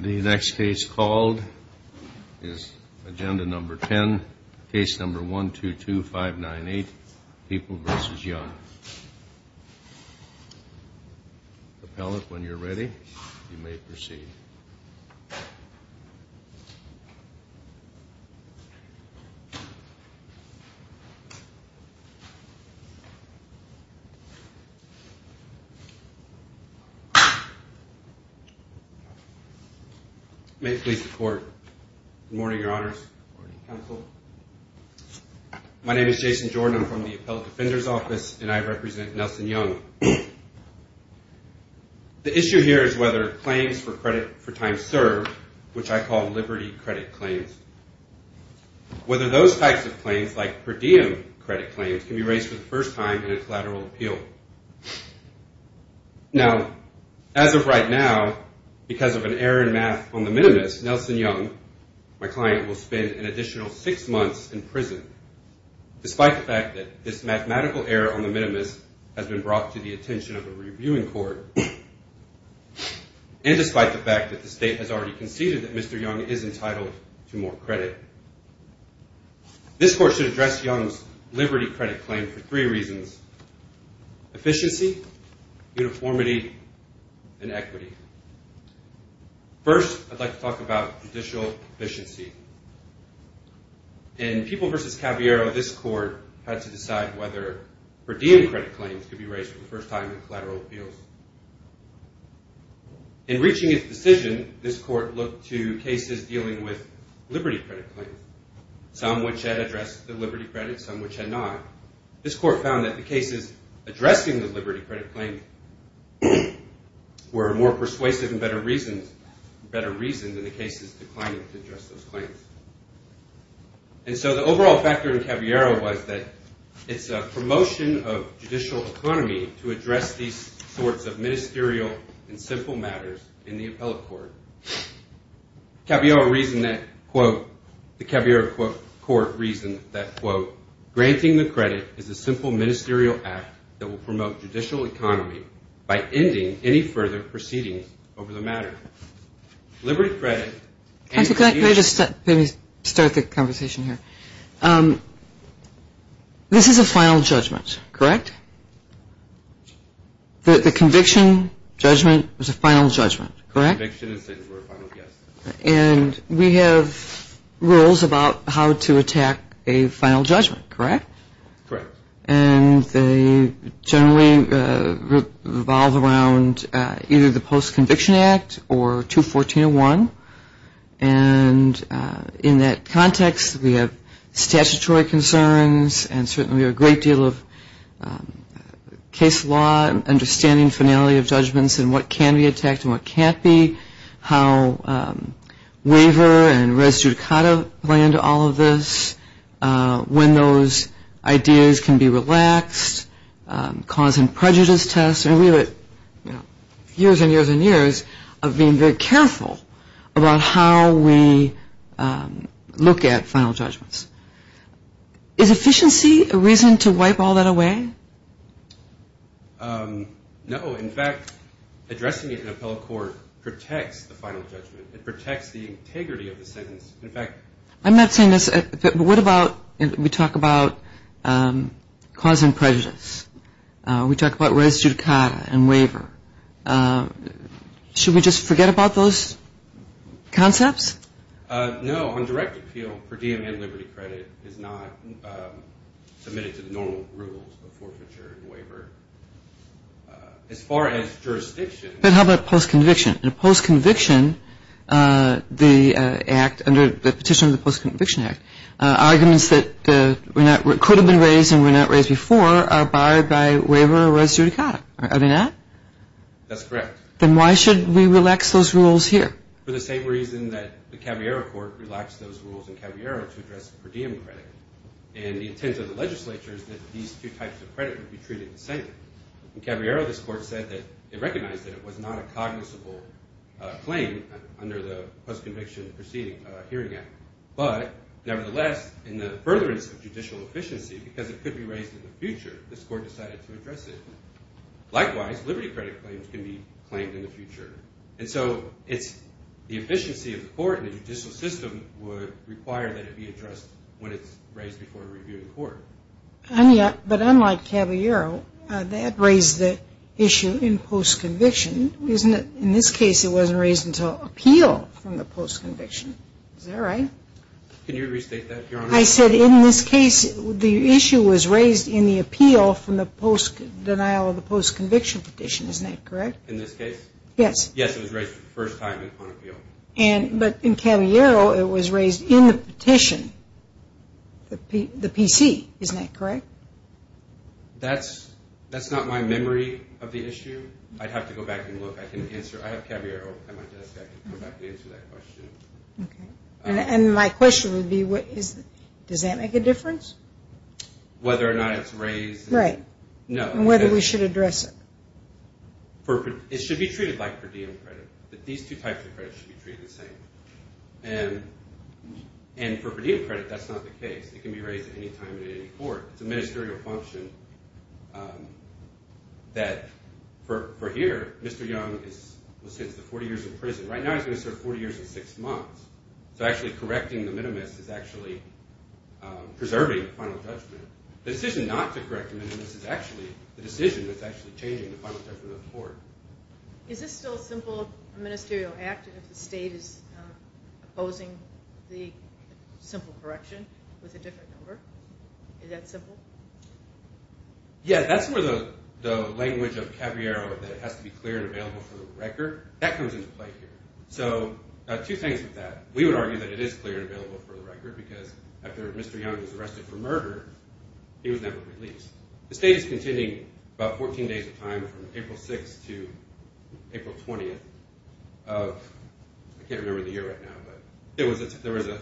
The next case called is agenda number 10, case number 122598, People v. Young. Appellant, when you're ready, you may proceed. May it please the court. Good morning, your honors. Good morning, counsel. My name is Jason Jordan. I'm from the Appellant Defender's Office, and I represent Nelson Young. The issue here is whether claims for credit for time served, which I call liberty credit claims, whether those types of claims, like per diem credit claims, can be raised for the first time in a collateral appeal. Now, as of right now, because of an error in math on the minimus, Nelson Young, my client, will spend an additional six months in prison, despite the fact that this mathematical error on the minimus has been brought to the attention of a reviewing court, and despite the fact that the state has already conceded that Mr. Young is entitled to more credit. This court should address Young's liberty credit claim for three reasons, efficiency, uniformity, and equity. First, I'd like to talk about judicial efficiency. In People v. Caballero, this court had to decide whether per diem credit claims could be raised for the first time in collateral appeals. In reaching its decision, this court looked to cases dealing with liberty credit claims, some which had addressed the liberty credit, some which had not. This court found that the cases addressing the liberty credit claim were more persuasive and better reasoned than the cases declining to address those claims. And so the overall factor in Caballero was that it's a promotion of judicial economy to address these sorts of ministerial and simple matters in the appellate court. Caballero reasoned that, quote, the Caballero court reasoned that, quote, granting the credit is a simple ministerial act that will promote judicial economy by ending any further proceedings over the matter. Liberty credit. Can I just start the conversation here? This is a final judgment, correct? The conviction judgment was a final judgment, correct? The conviction is the final judgment. And we have rules about how to attack a final judgment, correct? Correct. And they generally revolve around either the Post-Conviction Act or 214.01. And in that context, we have statutory concerns and certainly a great deal of case law, understanding finality of judgments and what can be attacked and what can't be, how waiver and res judicata play into all of this, when those ideas can be relaxed, cause and prejudice tests. And we have, you know, years and years and years of being very careful about how we look at final judgments. Is efficiency a reason to wipe all that away? No. In fact, addressing it in appellate court protects the final judgment. It protects the integrity of the sentence. I'm not saying this, but what about, we talk about cause and prejudice. We talk about res judicata and waiver. Should we just forget about those concepts? No, on direct appeal for DM and liberty credit is not submitted to the normal rules of forfeiture and waiver. As far as jurisdiction. But how about post-conviction? In a post-conviction, the act under the petition of the Post-Conviction Act, arguments that could have been raised and were not raised before are barred by waiver or res judicata. Are they not? That's correct. Then why should we relax those rules here? For the same reason that the Caballero Court relaxed those rules in Caballero to address per diem credit. And the intent of the legislature is that these two types of credit would be treated the same. In Caballero, this court said that it recognized that it was not a cognizable claim under the Post-Conviction Hearing Act. But nevertheless, in the furtherance of judicial efficiency, because it could be raised in the future, this court decided to address it. Likewise, liberty credit claims can be claimed in the future. And so it's the efficiency of the court and the judicial system would require that it be addressed when it's raised before a review in court. But unlike Caballero, that raised the issue in post-conviction, isn't it? In this case, it wasn't raised until appeal from the post-conviction. Is that right? Can you restate that, Your Honor? I said in this case, the issue was raised in the appeal from the post-denial of the post-conviction petition. Isn't that correct? In this case? Yes. Yes, it was raised for the first time on appeal. But in Caballero, it was raised in the petition, the PC. Isn't that correct? That's not my memory of the issue. I'd have to go back and look. I can answer. I have Caballero on my desk. I can come back and answer that question. And my question would be, does that make a difference? Whether or not it's raised. Right. And whether we should address it. It should be treated like per diem credit. These two types of credits should be treated the same. And for per diem credit, that's not the case. It can be raised at any time in any court. It's a ministerial function that for here, Mr. Young was sentenced to 40 years in prison. Right now, he's going to serve 40 years and six months. So actually correcting the minimus is actually preserving final judgment. The decision not to correct the minimus is actually the decision that's actually changing the final judgment of the court. Is this still a simple ministerial act if the state is opposing the simple correction with a different number? Is that simple? Yeah, that's where the language of Caballero that it has to be clear and available for the record, that comes into play here. So two things with that. We would argue that it is clear and available for the record because after Mr. Young was arrested for murder, he was never released. The state is contending about 14 days of time from April 6th to April 20th. I can't remember the year right now, but there was a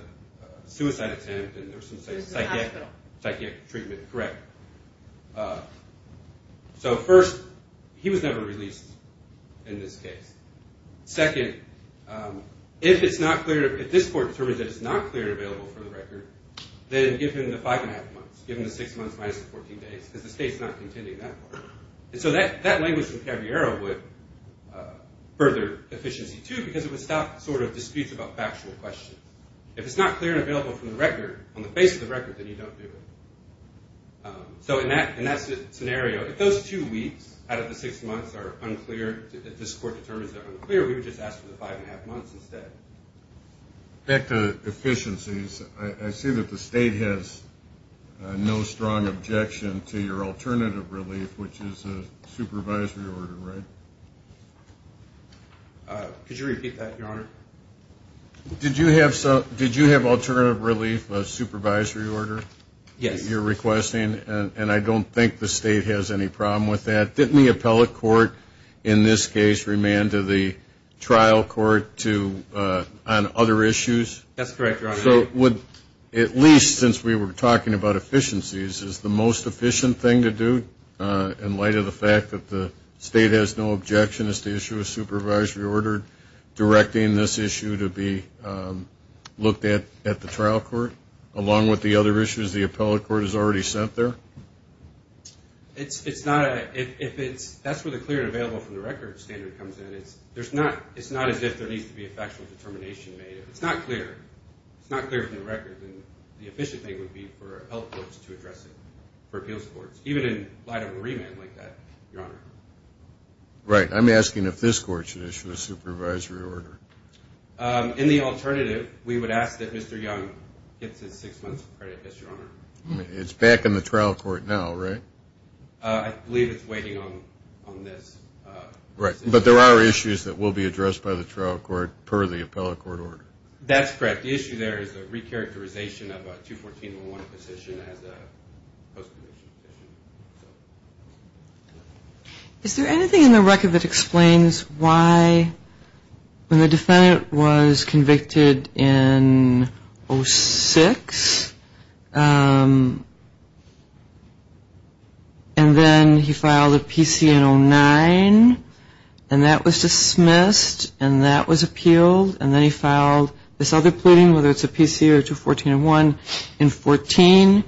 suicide attempt and there was some psychiatric treatment. Correct. So first, he was never released in this case. Second, if this court determines that it's not clear and available for the record, then give him the five and a half months. Give him the six months minus the 14 days because the state's not contending that part. And so that language from Caballero would further deficiency too because it would stop disputes about factual questions. If it's not clear and available from the record, on the face of the record, then you don't do it. So in that scenario, if those two weeks out of the six months are unclear, if this court determines they're unclear, we would just ask for the five and a half months instead. Back to efficiencies, I see that the state has no strong objection to your alternative relief, which is a supervisory order, right? Could you repeat that, Your Honor? Did you have alternative relief, a supervisory order? Yes. You're requesting, and I don't think the state has any problem with that. Didn't the appellate court in this case remand to the trial court on other issues? That's correct, Your Honor. So would, at least since we were talking about efficiencies, is the most efficient thing to do in light of the fact that the state has no objection is to issue a supervisory order directing this issue to be looked at at the trial court along with the other issues the appellate court has already sent there? It's not a, if it's, that's where the clear and available from the record standard comes in. It's not as if there needs to be a factual determination made. If it's not clear, it's not clear from the record, then the efficient thing would be for appellate courts to address it, for appeals courts, even in light of a remand like that, Your Honor. Right. I'm asking if this court should issue a supervisory order. In the alternative, we would ask that Mr. Young gets his six months of credit, Yes, Your Honor. It's back in the trial court now, right? I believe it's waiting on this. Right. But there are issues that will be addressed by the trial court per the appellate court order. That's correct. The issue there is the recharacterization of a 214-01 position as a post-conviction position. Is there anything in the record that explains why, when the defendant was convicted in 06, and then he filed a PC in 09, and that was dismissed, and that was appealed, and then he filed this other pleading, whether it's a PC or 214-01 in 14.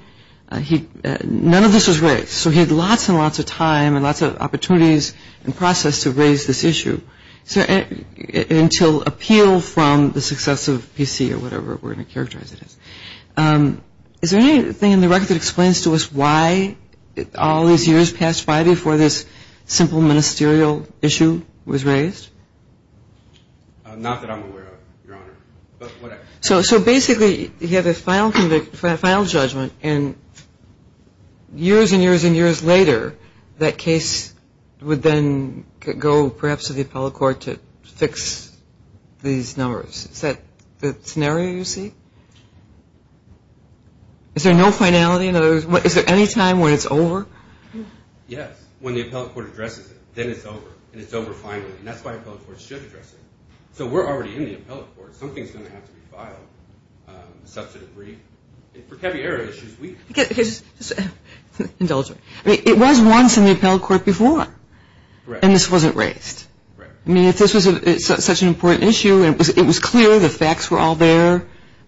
None of this was raised. So he had lots and lots of time and lots of opportunities and process to raise this issue until appeal from the successive PC or whatever we're going to characterize it as. Is there anything in the record that explains to us why all these years passed by before this simple ministerial issue was raised? Not that I'm aware of, Your Honor, but whatever. So basically he had his final judgment, and years and years and years later, that case would then go perhaps to the appellate court to fix these numbers. Is that the scenario you see? Is there no finality? Is there any time when it's over? Yes, when the appellate court addresses it. Then it's over, and it's over finally. And that's why the appellate court should address it. So we're already in the appellate court. Something's going to have to be filed. Substantive brief. For caviar issues, we get it. Indulge me. I mean, it was once in the appellate court before, and this wasn't raised. I mean, if this was such an important issue, it was clear the facts were all there. I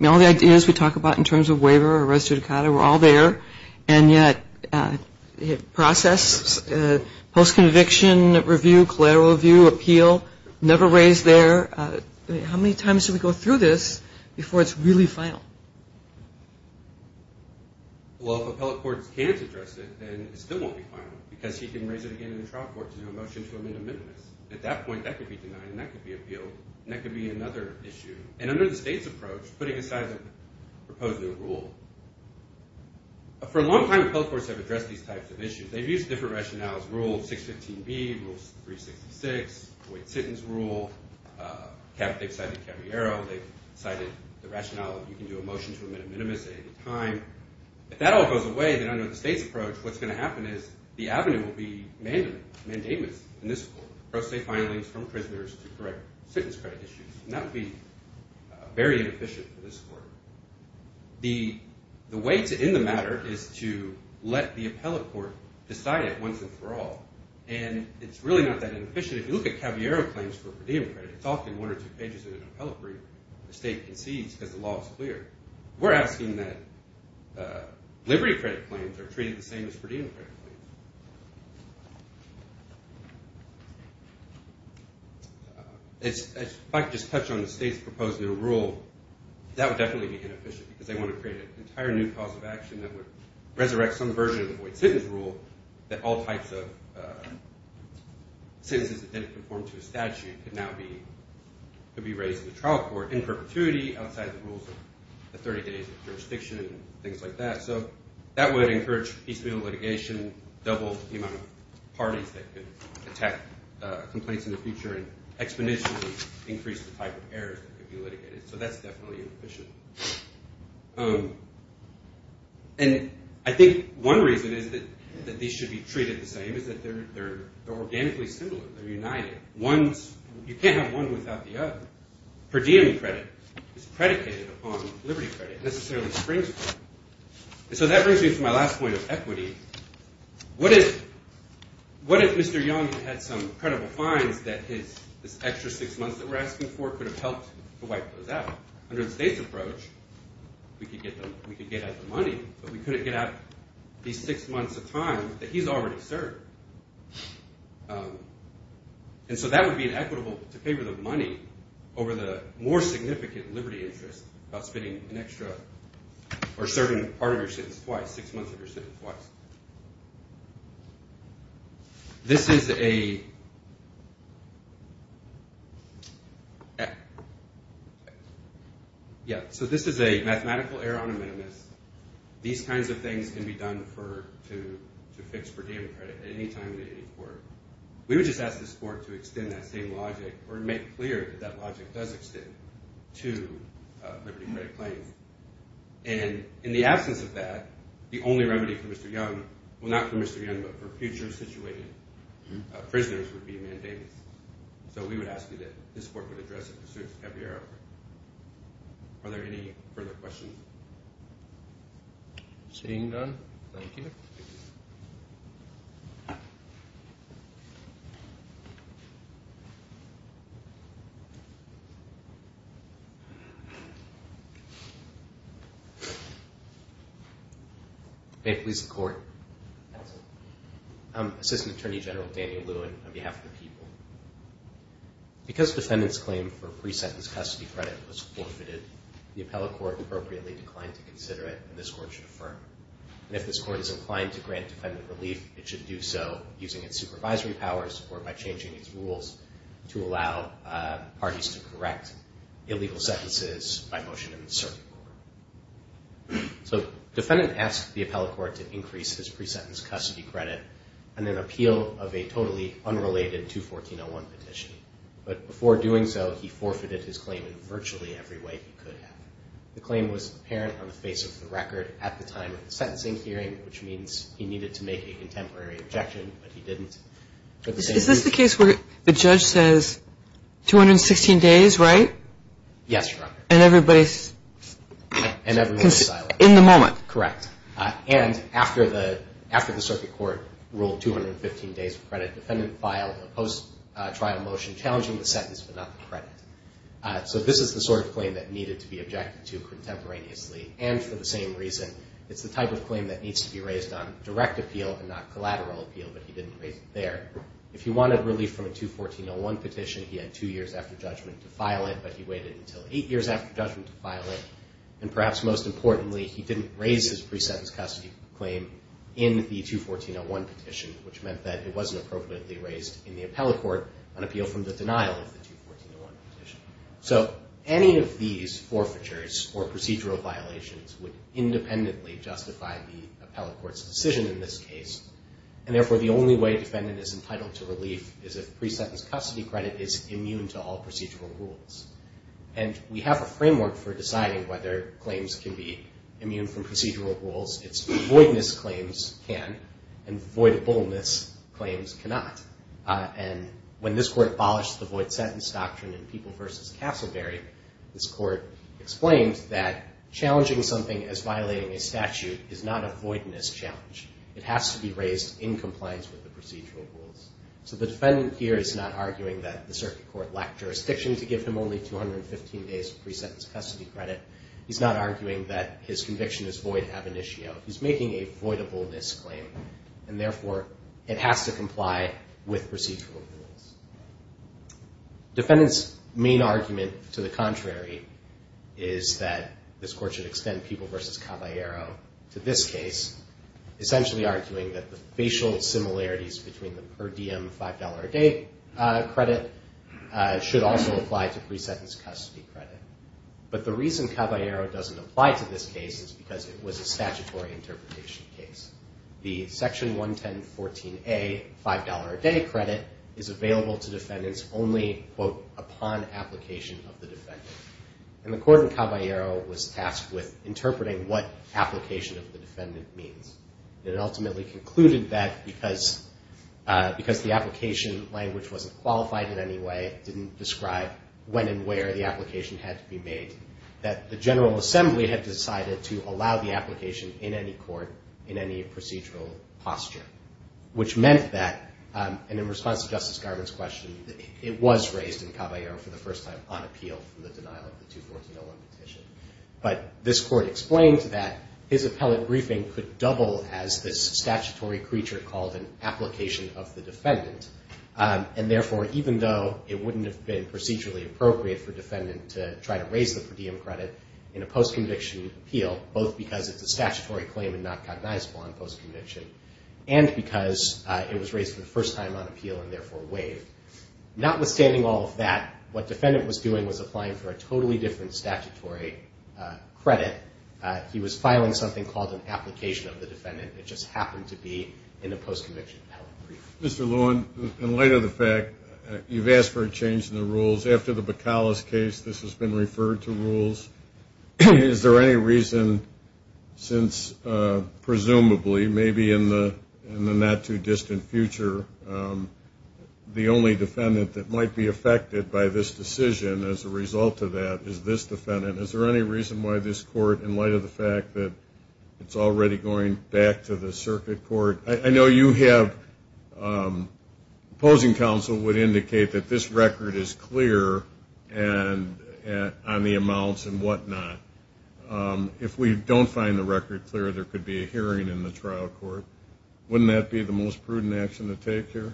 mean, all the ideas we talk about in terms of waiver or res judicata were all there, and yet process, post-conviction review, collateral review, appeal, never raised there. How many times do we go through this before it's really final? Well, if appellate courts can't address it, then it still won't be final because he can raise it again in the trial court to do a motion to amend a minimis. At that point, that could be denied, and that could be appealed, and that could be another issue. And under the state's approach, putting aside the proposed new rule, for a long time appellate courts have addressed these types of issues. They've used different rationales, Rule 615B, Rule 366, the Wait Sentence Rule. They've cited caviar. They've cited the rationale that you can do a motion to amend a minimis at any time. If that all goes away, then under the state's approach, what's going to happen is the avenue will be mandamus in this court. Pro se filings from prisoners to correct sentence credit issues. That would be very inefficient for this court. The way to end the matter is to let the appellate court decide it once and for all, and it's really not that inefficient. If you look at caviar claims for per diem credit, it's often one or two pages in an appellate brief. The state concedes because the law is clear. We're asking that liberty credit claims are treated the same as per diem credit claims. If I could just touch on the state's proposed new rule, that would definitely be inefficient because they want to create an entire new cause of action that would resurrect some version of the Wait Sentence Rule that all types of sentences that didn't conform to a statute could now be raised in the trial court in perpetuity outside the rules of the 30 days of jurisdiction and things like that. So that would encourage piecemeal litigation, double the amount of parties that could attack complaints in the future and exponentially increase the type of errors that could be litigated. So that's definitely inefficient. And I think one reason is that these should be treated the same is that they're organically similar. They're united. You can't have one without the other. Per diem credit is predicated upon liberty credit. It necessarily springs from it. And so that brings me to my last point of equity. What if Mr. Young had some credible fines that his extra six months that we're asking for could have helped to wipe those out? Under the state's approach, we could get out the money, but we couldn't get out these six months of time that he's already served. And so that would be inequitable to pay for the money over the more significant liberty interest about spending an extra or serving part of your sentence twice, six months of your sentence twice. So this is a mathematical error on a minimus. These kinds of things can be done to fix per diem credit at any time in any court. We would just ask this court to extend that same logic or make clear that that logic does extend to liberty credit claims. And in the absence of that, the only remedy for Mr. Young, well, not for Mr. Young, but for future situated prisoners, would be mandamus. So we would ask you that this court would address it. Are there any further questions? Seeing none, thank you. May it please the Court. I'm Assistant Attorney General Daniel Lewin on behalf of the people. Because defendant's claim for pre-sentence custody credit was forfeited, the appellate court appropriately declined to consider it, and this court should affirm. And if this court is inclined to grant defendant relief, it should do so using its supervisory powers or by changing its rules to allow parties to correct illegal sentences by motion in the circuit court. So defendant asked the appellate court to increase his pre-sentence custody credit on an appeal of a totally unrelated 214.01 petition. But before doing so, he forfeited his claim in virtually every way he could have. The claim was apparent on the face of the record at the time of the sentencing hearing, which means he needed to make a contemporary objection, but he didn't. Is this the case where the judge says 216 days, right? Yes, Your Honor. And everybody's in the moment? Correct. And after the circuit court ruled 215 days of credit, defendant filed a post-trial motion challenging the sentence but not the credit. So this is the sort of claim that needed to be objected to contemporaneously, and for the same reason it's the type of claim that needs to be raised on direct appeal and not collateral appeal, but he didn't raise it there. If he wanted relief from a 214.01 petition, he had two years after judgment to file it, but he waited until eight years after judgment to file it. And perhaps most importantly, he didn't raise his pre-sentence custody claim in the 214.01 petition, which meant that it wasn't appropriately raised in the appellate court on appeal from the denial of the 214.01 petition. So any of these forfeitures or procedural violations would independently justify the appellate court's decision in this case, and therefore the only way defendant is entitled to relief is if pre-sentence custody credit is immune to all procedural rules. And we have a framework for deciding whether claims can be immune from procedural rules. It's voidness claims can, and voidableness claims cannot. And when this court abolished the void sentence doctrine in People v. Castleberry, this court explained that challenging something as violating a statute is not a voidness challenge. It has to be raised in compliance with the procedural rules. So the defendant here is not arguing that the circuit court lacked jurisdiction to give him only 215 days of pre-sentence custody credit. He's not arguing that his conviction is void ab initio. He's making a voidableness claim, and therefore it has to comply with procedural rules. Defendant's main argument to the contrary is that this court should extend People v. Caballero to this case, essentially arguing that the facial similarities between the per diem $5 a day credit should also apply to pre-sentence custody credit. But the reason Caballero doesn't apply to this case is because it was a statutory interpretation case. The Section 11014A $5 a day credit is available to defendants only, quote, upon application of the defendant. And the court in Caballero was tasked with interpreting what application of the defendant means. It ultimately concluded that because the application language wasn't qualified in any way, it didn't describe when and where the application had to be made, that the General Assembly had decided to allow the application in any court in any procedural posture, which meant that, and in response to Justice Garvin's question, it was raised in Caballero for the first time on appeal for the denial of the 214-01 petition. But this court explained that his appellate briefing could double as this statutory creature called an application of the defendant, and therefore even though it wouldn't have been procedurally appropriate for a defendant to try to raise the per diem credit in a post-conviction appeal, both because it's a statutory claim and not cognizable on post-conviction, and because it was raised for the first time on appeal and therefore waived. Notwithstanding all of that, what defendant was doing was applying for a totally different statutory credit. He was filing something called an application of the defendant. It just happened to be in a post-conviction appellate briefing. Mr. Lewin, in light of the fact you've asked for a change in the rules, after the Bacallis case, this has been referred to rules. Is there any reason since presumably, maybe in the not-too-distant future, the only defendant that might be affected by this decision as a result of that is this defendant? Is there any reason why this court, in light of the fact that it's already going back to the circuit court? I know you have opposing counsel would indicate that this record is clear on the amounts and whatnot. If we don't find the record clear, there could be a hearing in the trial court. Wouldn't that be the most prudent action to take here?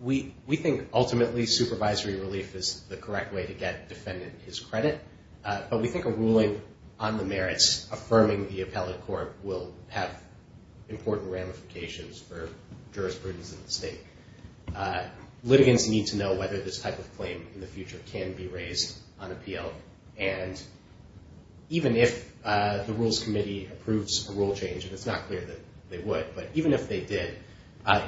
We think ultimately supervisory relief is the correct way to get defendant his credit, but we think a ruling on the merits, affirming the appellate court, will have important ramifications for jurisprudence in the state. Litigants need to know whether this type of claim in the future can be raised on appeal. Even if the Rules Committee approves a rule change, and it's not clear that they would, but even if they did,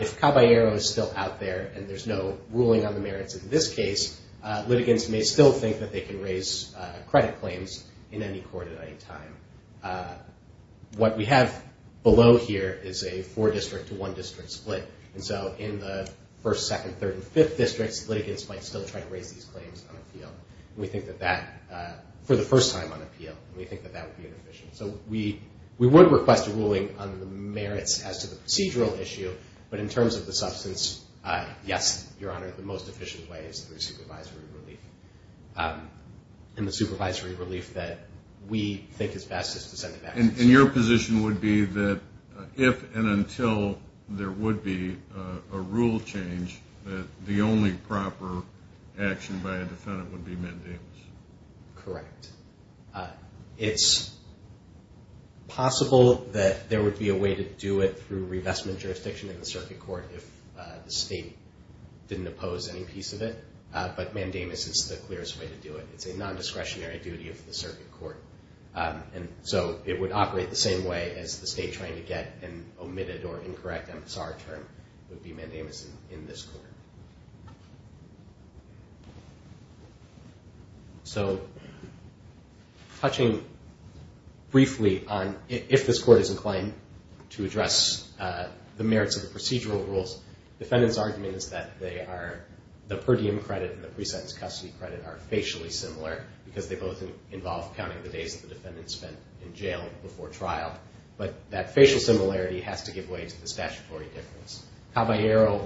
if Caballero is still out there and there's no ruling on the merits in this case, litigants may still think that they can raise credit claims in any court at any time. What we have below here is a four-district to one-district split, and so in the first, second, third, and fifth districts, litigants might still try to raise these claims on appeal. We think that that, for the first time on appeal, we think that that would be inefficient. So we would request a ruling on the merits as to the procedural issue, but in terms of the substance, yes, Your Honor, the most efficient way is through supervisory relief, and the supervisory relief that we think is best is to send it back to the state. And your position would be that if and until there would be a rule change, that the only proper action by a defendant would be mandamus? Correct. It's possible that there would be a way to do it through revestment jurisdiction in the circuit court if the state didn't oppose any piece of it, but mandamus is the clearest way to do it. It's a nondiscretionary duty of the circuit court, and so it would operate the same way as the state trying to get an omitted or incorrect MSR term would be mandamus in this court. So, touching briefly on if this court is inclined to address the merits of the procedural rules, defendant's argument is that the per diem credit and the pre-sentence custody credit are facially similar because they both involve counting the days that the defendant spent in jail before trial, but that facial similarity has to give way to the statutory difference. Caballero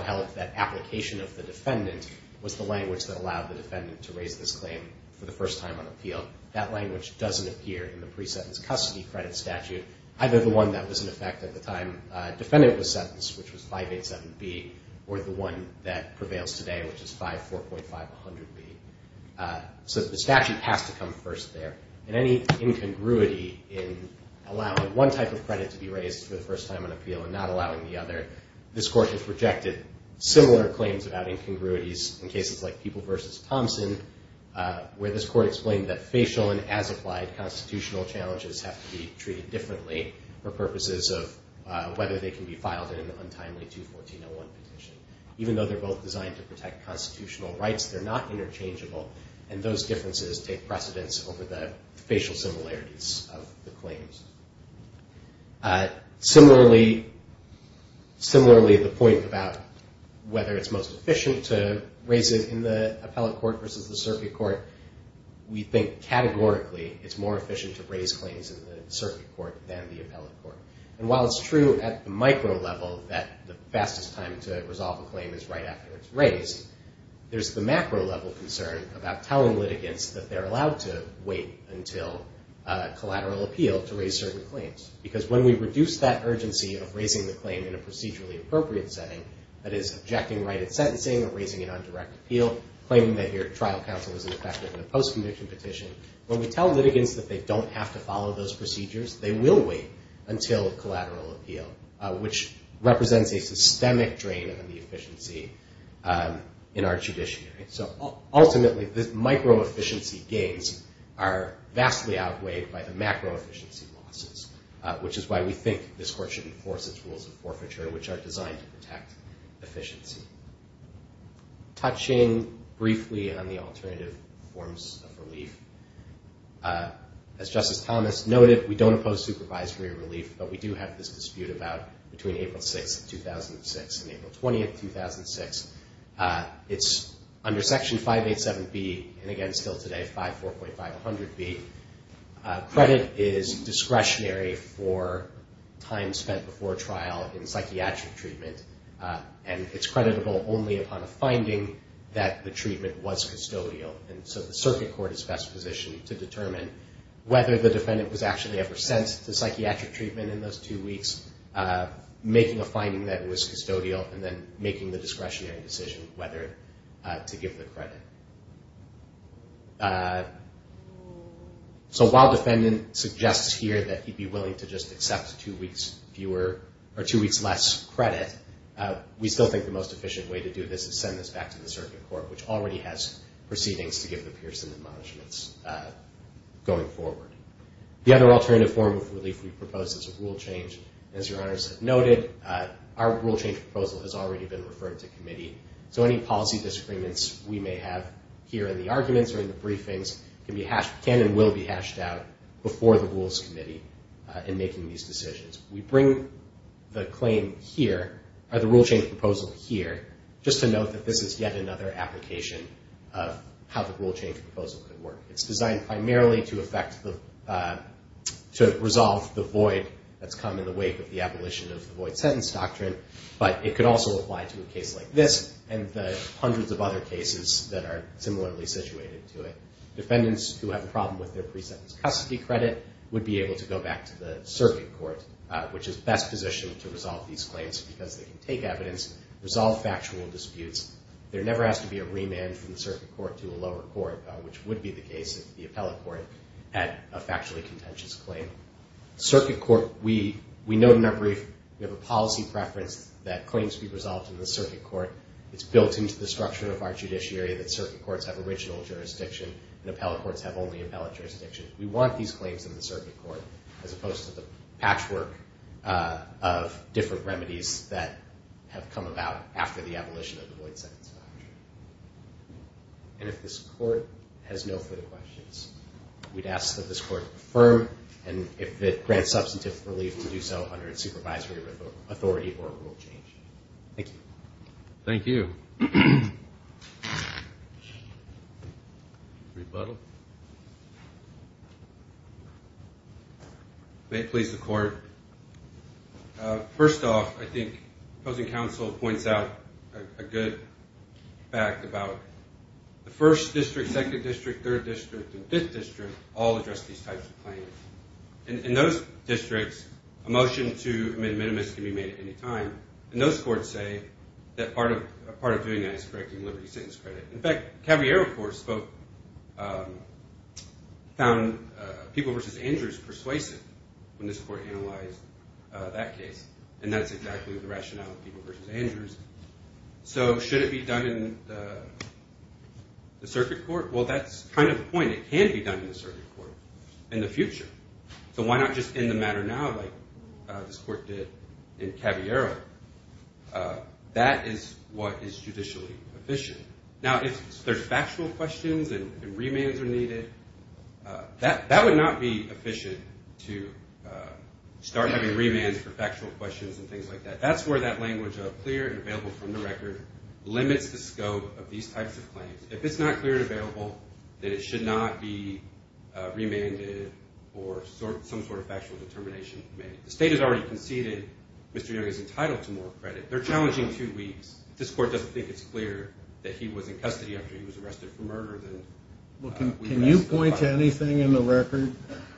held that application of the defendant was the language that allowed the defendant to raise this claim for the first time on appeal. That language doesn't appear in the pre-sentence custody credit statute, either the one that was in effect at the time the defendant was sentenced, which was 587B, or the one that prevails today, which is 54.500B. So the statute has to come first there. And any incongruity in allowing one type of credit to be raised for the first time on appeal and not allowing the other, this court has rejected similar claims about incongruities in cases like People v. Thompson, where this court explained that facial and as-applied constitutional challenges have to be treated differently for purposes of whether they can be filed in an untimely 214.01 petition. Even though they're both designed to protect constitutional rights, they're not interchangeable, and those differences take precedence over the facial similarities of the claims. Similarly, the point about whether it's most efficient to raise it in the appellate court versus the circuit court, we think categorically it's more efficient to raise claims in the circuit court than the appellate court. And while it's true at the micro level that the fastest time to resolve a claim is right after it's raised, there's the macro level concern about telling litigants that they're allowed to wait until collateral appeal to raise certain claims. Because when we reduce that urgency of raising the claim in a procedurally appropriate setting, that is, objecting right at sentencing or raising it on direct appeal, claiming that your trial counsel was ineffective in a post-conviction petition, when we tell litigants that they don't have to follow those procedures, they will wait until collateral appeal, which represents a systemic drain on the efficiency in our judiciary. So ultimately, the micro efficiency gains are vastly outweighed by the macro efficiency losses, which is why we think this court should enforce its rules of forfeiture, which are designed to protect efficiency. Touching briefly on the alternative forms of relief, as Justice Thomas noted, we don't oppose supervisory relief, but we do have this dispute about between April 6, 2006 and April 20, 2006. It's under Section 587B and, again, still today, 54.500B. Credit is discretionary for time spent before trial in psychiatric treatment, and it's creditable only upon a finding that the treatment was custodial. And so the circuit court is best positioned to determine whether the defendant was actually ever sent to psychiatric treatment in those two weeks, making a finding that it was custodial, and then making the discretionary decision whether to give the credit. So while defendant suggests here that he'd be willing to just accept two weeks fewer or two weeks less credit, we still think the most efficient way to do this is send this back to the circuit court, which already has proceedings to give the Pearson admonishments going forward. The other alternative form of relief we propose is a rule change. As Your Honors have noted, our rule change proposal has already been referred to committee, so any policy disagreements we may have here in the arguments or in the briefings can and will be hashed out before the Rules Committee in making these decisions. We bring the claim here, or the rule change proposal here, just to note that this is yet another application of how the rule change proposal could work. It's designed primarily to resolve the void that's come in the wake of the abolition of the void sentence doctrine, but it could also apply to a case like this and the hundreds of other cases that are similarly situated to it. Defendants who have a problem with their pre-sentence custody credit would be able to go back to the circuit court, which is best positioned to resolve these claims because they can take evidence, resolve factual disputes. There never has to be a remand from the circuit court to a lower court, which would be the case of the appellate court at a factually contentious claim. Circuit court, we note in our brief, we have a policy preference that claims be resolved in the circuit court. It's built into the structure of our judiciary that circuit courts have original jurisdiction and appellate courts have only appellate jurisdiction. We want these claims in the circuit court as opposed to the patchwork of different remedies that have come about after the abolition of the void sentence doctrine. And if this court has no further questions, we'd ask that this court affirm, and if it grants substantive relief to do so under its supervisory authority or rule change. Thank you. Thank you. Rebuttal. May it please the court. First off, I think opposing counsel points out a good fact about the first district, second district, third district, and fifth district all address these types of claims. In those districts, a motion to amend minimus can be made at any time, and those courts say that part of doing that is correcting liberty sentence credit. In fact, Cavier, of course, found People v. Andrews persuasive when this court analyzed that case, and that's exactly the rationale of People v. Andrews. So should it be done in the circuit court? Well, that's kind of the point. It can be done in the circuit court in the future. So why not just end the matter now like this court did in Caviero? That is what is judicially efficient. Now, if there's factual questions and remands are needed, that would not be efficient to start having remands for factual questions and things like that. That's where that language of clear and available from the record limits the scope of these types of claims. If it's not clear and available, then it should not be remanded or some sort of factual determination made. If the state has already conceded, Mr. Young is entitled to more credit. They're challenging two weeks. If this court doesn't think it's clear that he was in custody after he was arrested for murder, then we can ask the court. Can you point to anything in the record?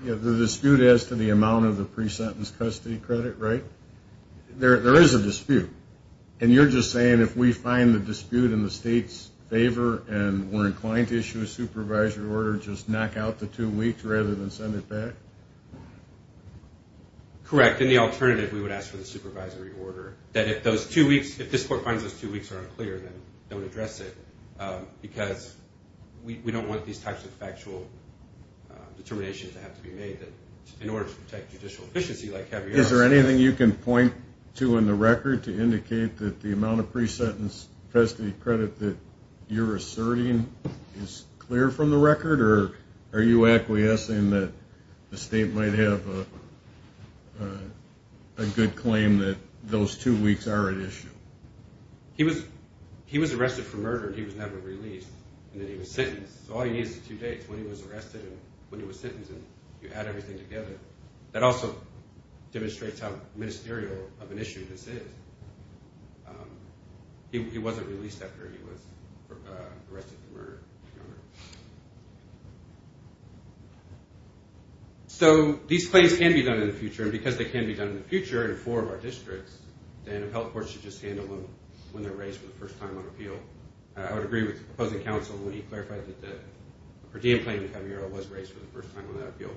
The dispute as to the amount of the pre-sentence custody credit, right? There is a dispute, and you're just saying if we find the dispute in the state's favor and we're inclined to issue a supervisory order, just knock out the two weeks rather than send it back? Correct. And the alternative, we would ask for the supervisory order, that if this court finds those two weeks are unclear, then don't address it because we don't want these types of factual determinations to have to be made in order to protect judicial efficiency like Caviero. Is there anything you can point to in the record to indicate that the amount of pre-sentence custody credit that you're asserting is clear from the record, or are you acquiescing that the state might have a good claim that those two weeks are at issue? He was arrested for murder, and he was never released, and then he was sentenced. So all he needs is two days when he was arrested and when he was sentenced, and you add everything together. That also demonstrates how ministerial of an issue this is. He wasn't released after he was arrested for murder. So these claims can be done in the future, and because they can be done in the future in four of our districts, then a health court should just handle them when they're raised for the first time on appeal. I would agree with the opposing counsel when he clarified that the per diem claim that Caviero was raised for the first time on that appeal.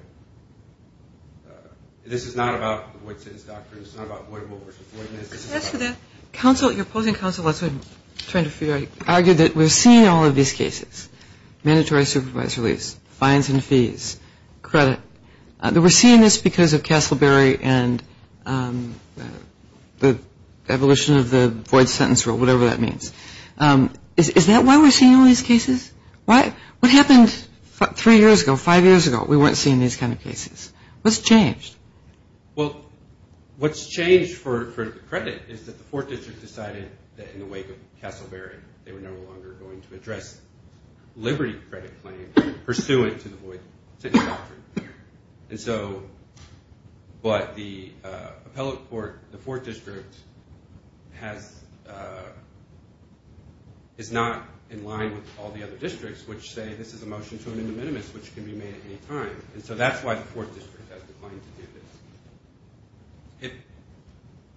This is not about the void sentence doctrine. This is not about voidable versus void. Your opposing counsel argued that we're seeing all of these cases, mandatory supervised release, fines and fees, credit. We're seeing this because of Castleberry and the evolution of the void sentence rule, whatever that means. Is that why we're seeing all these cases? What happened three years ago, five years ago? We weren't seeing these kind of cases. What's changed? Well, what's changed for credit is that the Fourth District decided that in the wake of Castleberry, they were no longer going to address liberty credit claims pursuant to the void sentence doctrine. But the appellate court, the Fourth District, is not in line with all the other districts, which say this is a motion to an indemnitimous, which can be made at any time. And so that's why the Fourth District has declined to do this.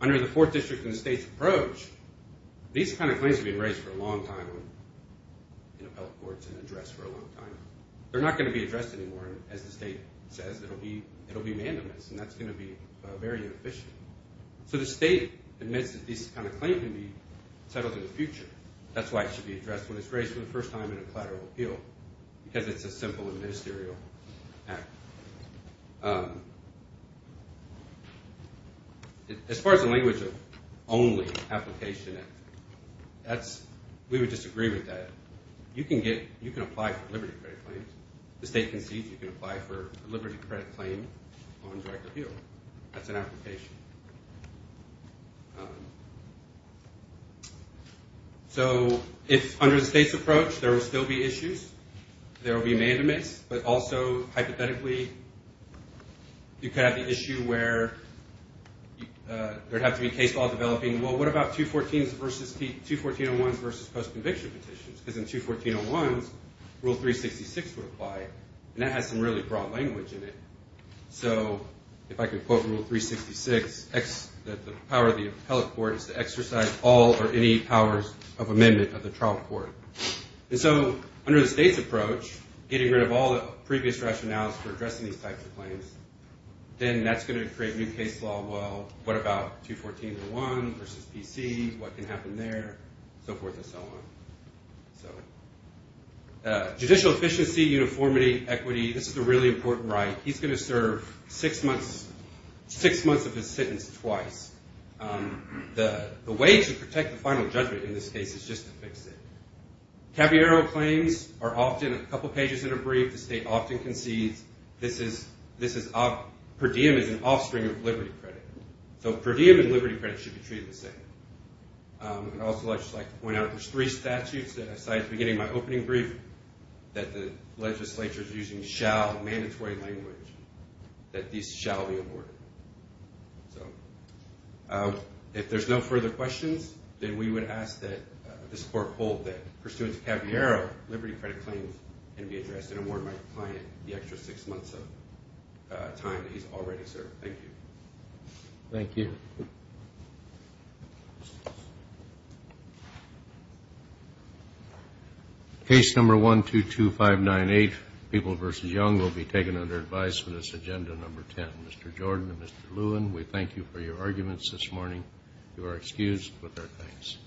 Under the Fourth District and the state's approach, these kind of claims have been raised for a long time in appellate courts and addressed for a long time. They're not going to be addressed anymore. As the state says, it'll be mandamus, and that's going to be very inefficient. So the state admits that these kind of claims can be settled in the future. That's why it should be addressed when it's raised for the first time in a collateral appeal because it's a simple and ministerial act. As far as the language of only application, we would disagree with that. You can apply for liberty credit claims. The state concedes you can apply for a liberty credit claim on direct appeal. That's an application. So if under the state's approach there will still be issues, there will be mandamus, but also hypothetically you could have the issue where there'd have to be case law developing. Well, what about 21401s versus post-conviction petitions? Because in 21401s, Rule 366 would apply, and that has some really broad language in it. So if I could quote Rule 366, the power of the appellate court is to exercise all or any powers of amendment of the trial court. And so under the state's approach, getting rid of all the previous rationales for addressing these types of claims, then that's going to create new case law. Well, what about 21401 versus PC? What can happen there? So forth and so on. So judicial efficiency, uniformity, equity, this is a really important right. He's going to serve six months of his sentence twice. The way to protect the final judgment in this case is just to fix it. Caballero claims are often a couple pages in a brief. The state often concedes. Per diem is an offspring of liberty credit. So per diem and liberty credit should be treated the same. And also I'd just like to point out there's three statutes that I cited at the beginning of my opening brief that the legislature is using shall, mandatory language, that these shall be aborted. So if there's no further questions, then we would ask that this court hold that pursuant to Caballero, our liberty credit claims can be addressed. And I warned my client the extra six months of time that he's already served. Thank you. Thank you. Case number 122598, People versus Young, will be taken under advice for this agenda number 10. Mr. Jordan and Mr. Lewin, we thank you for your arguments this morning. You are excused with our thanks.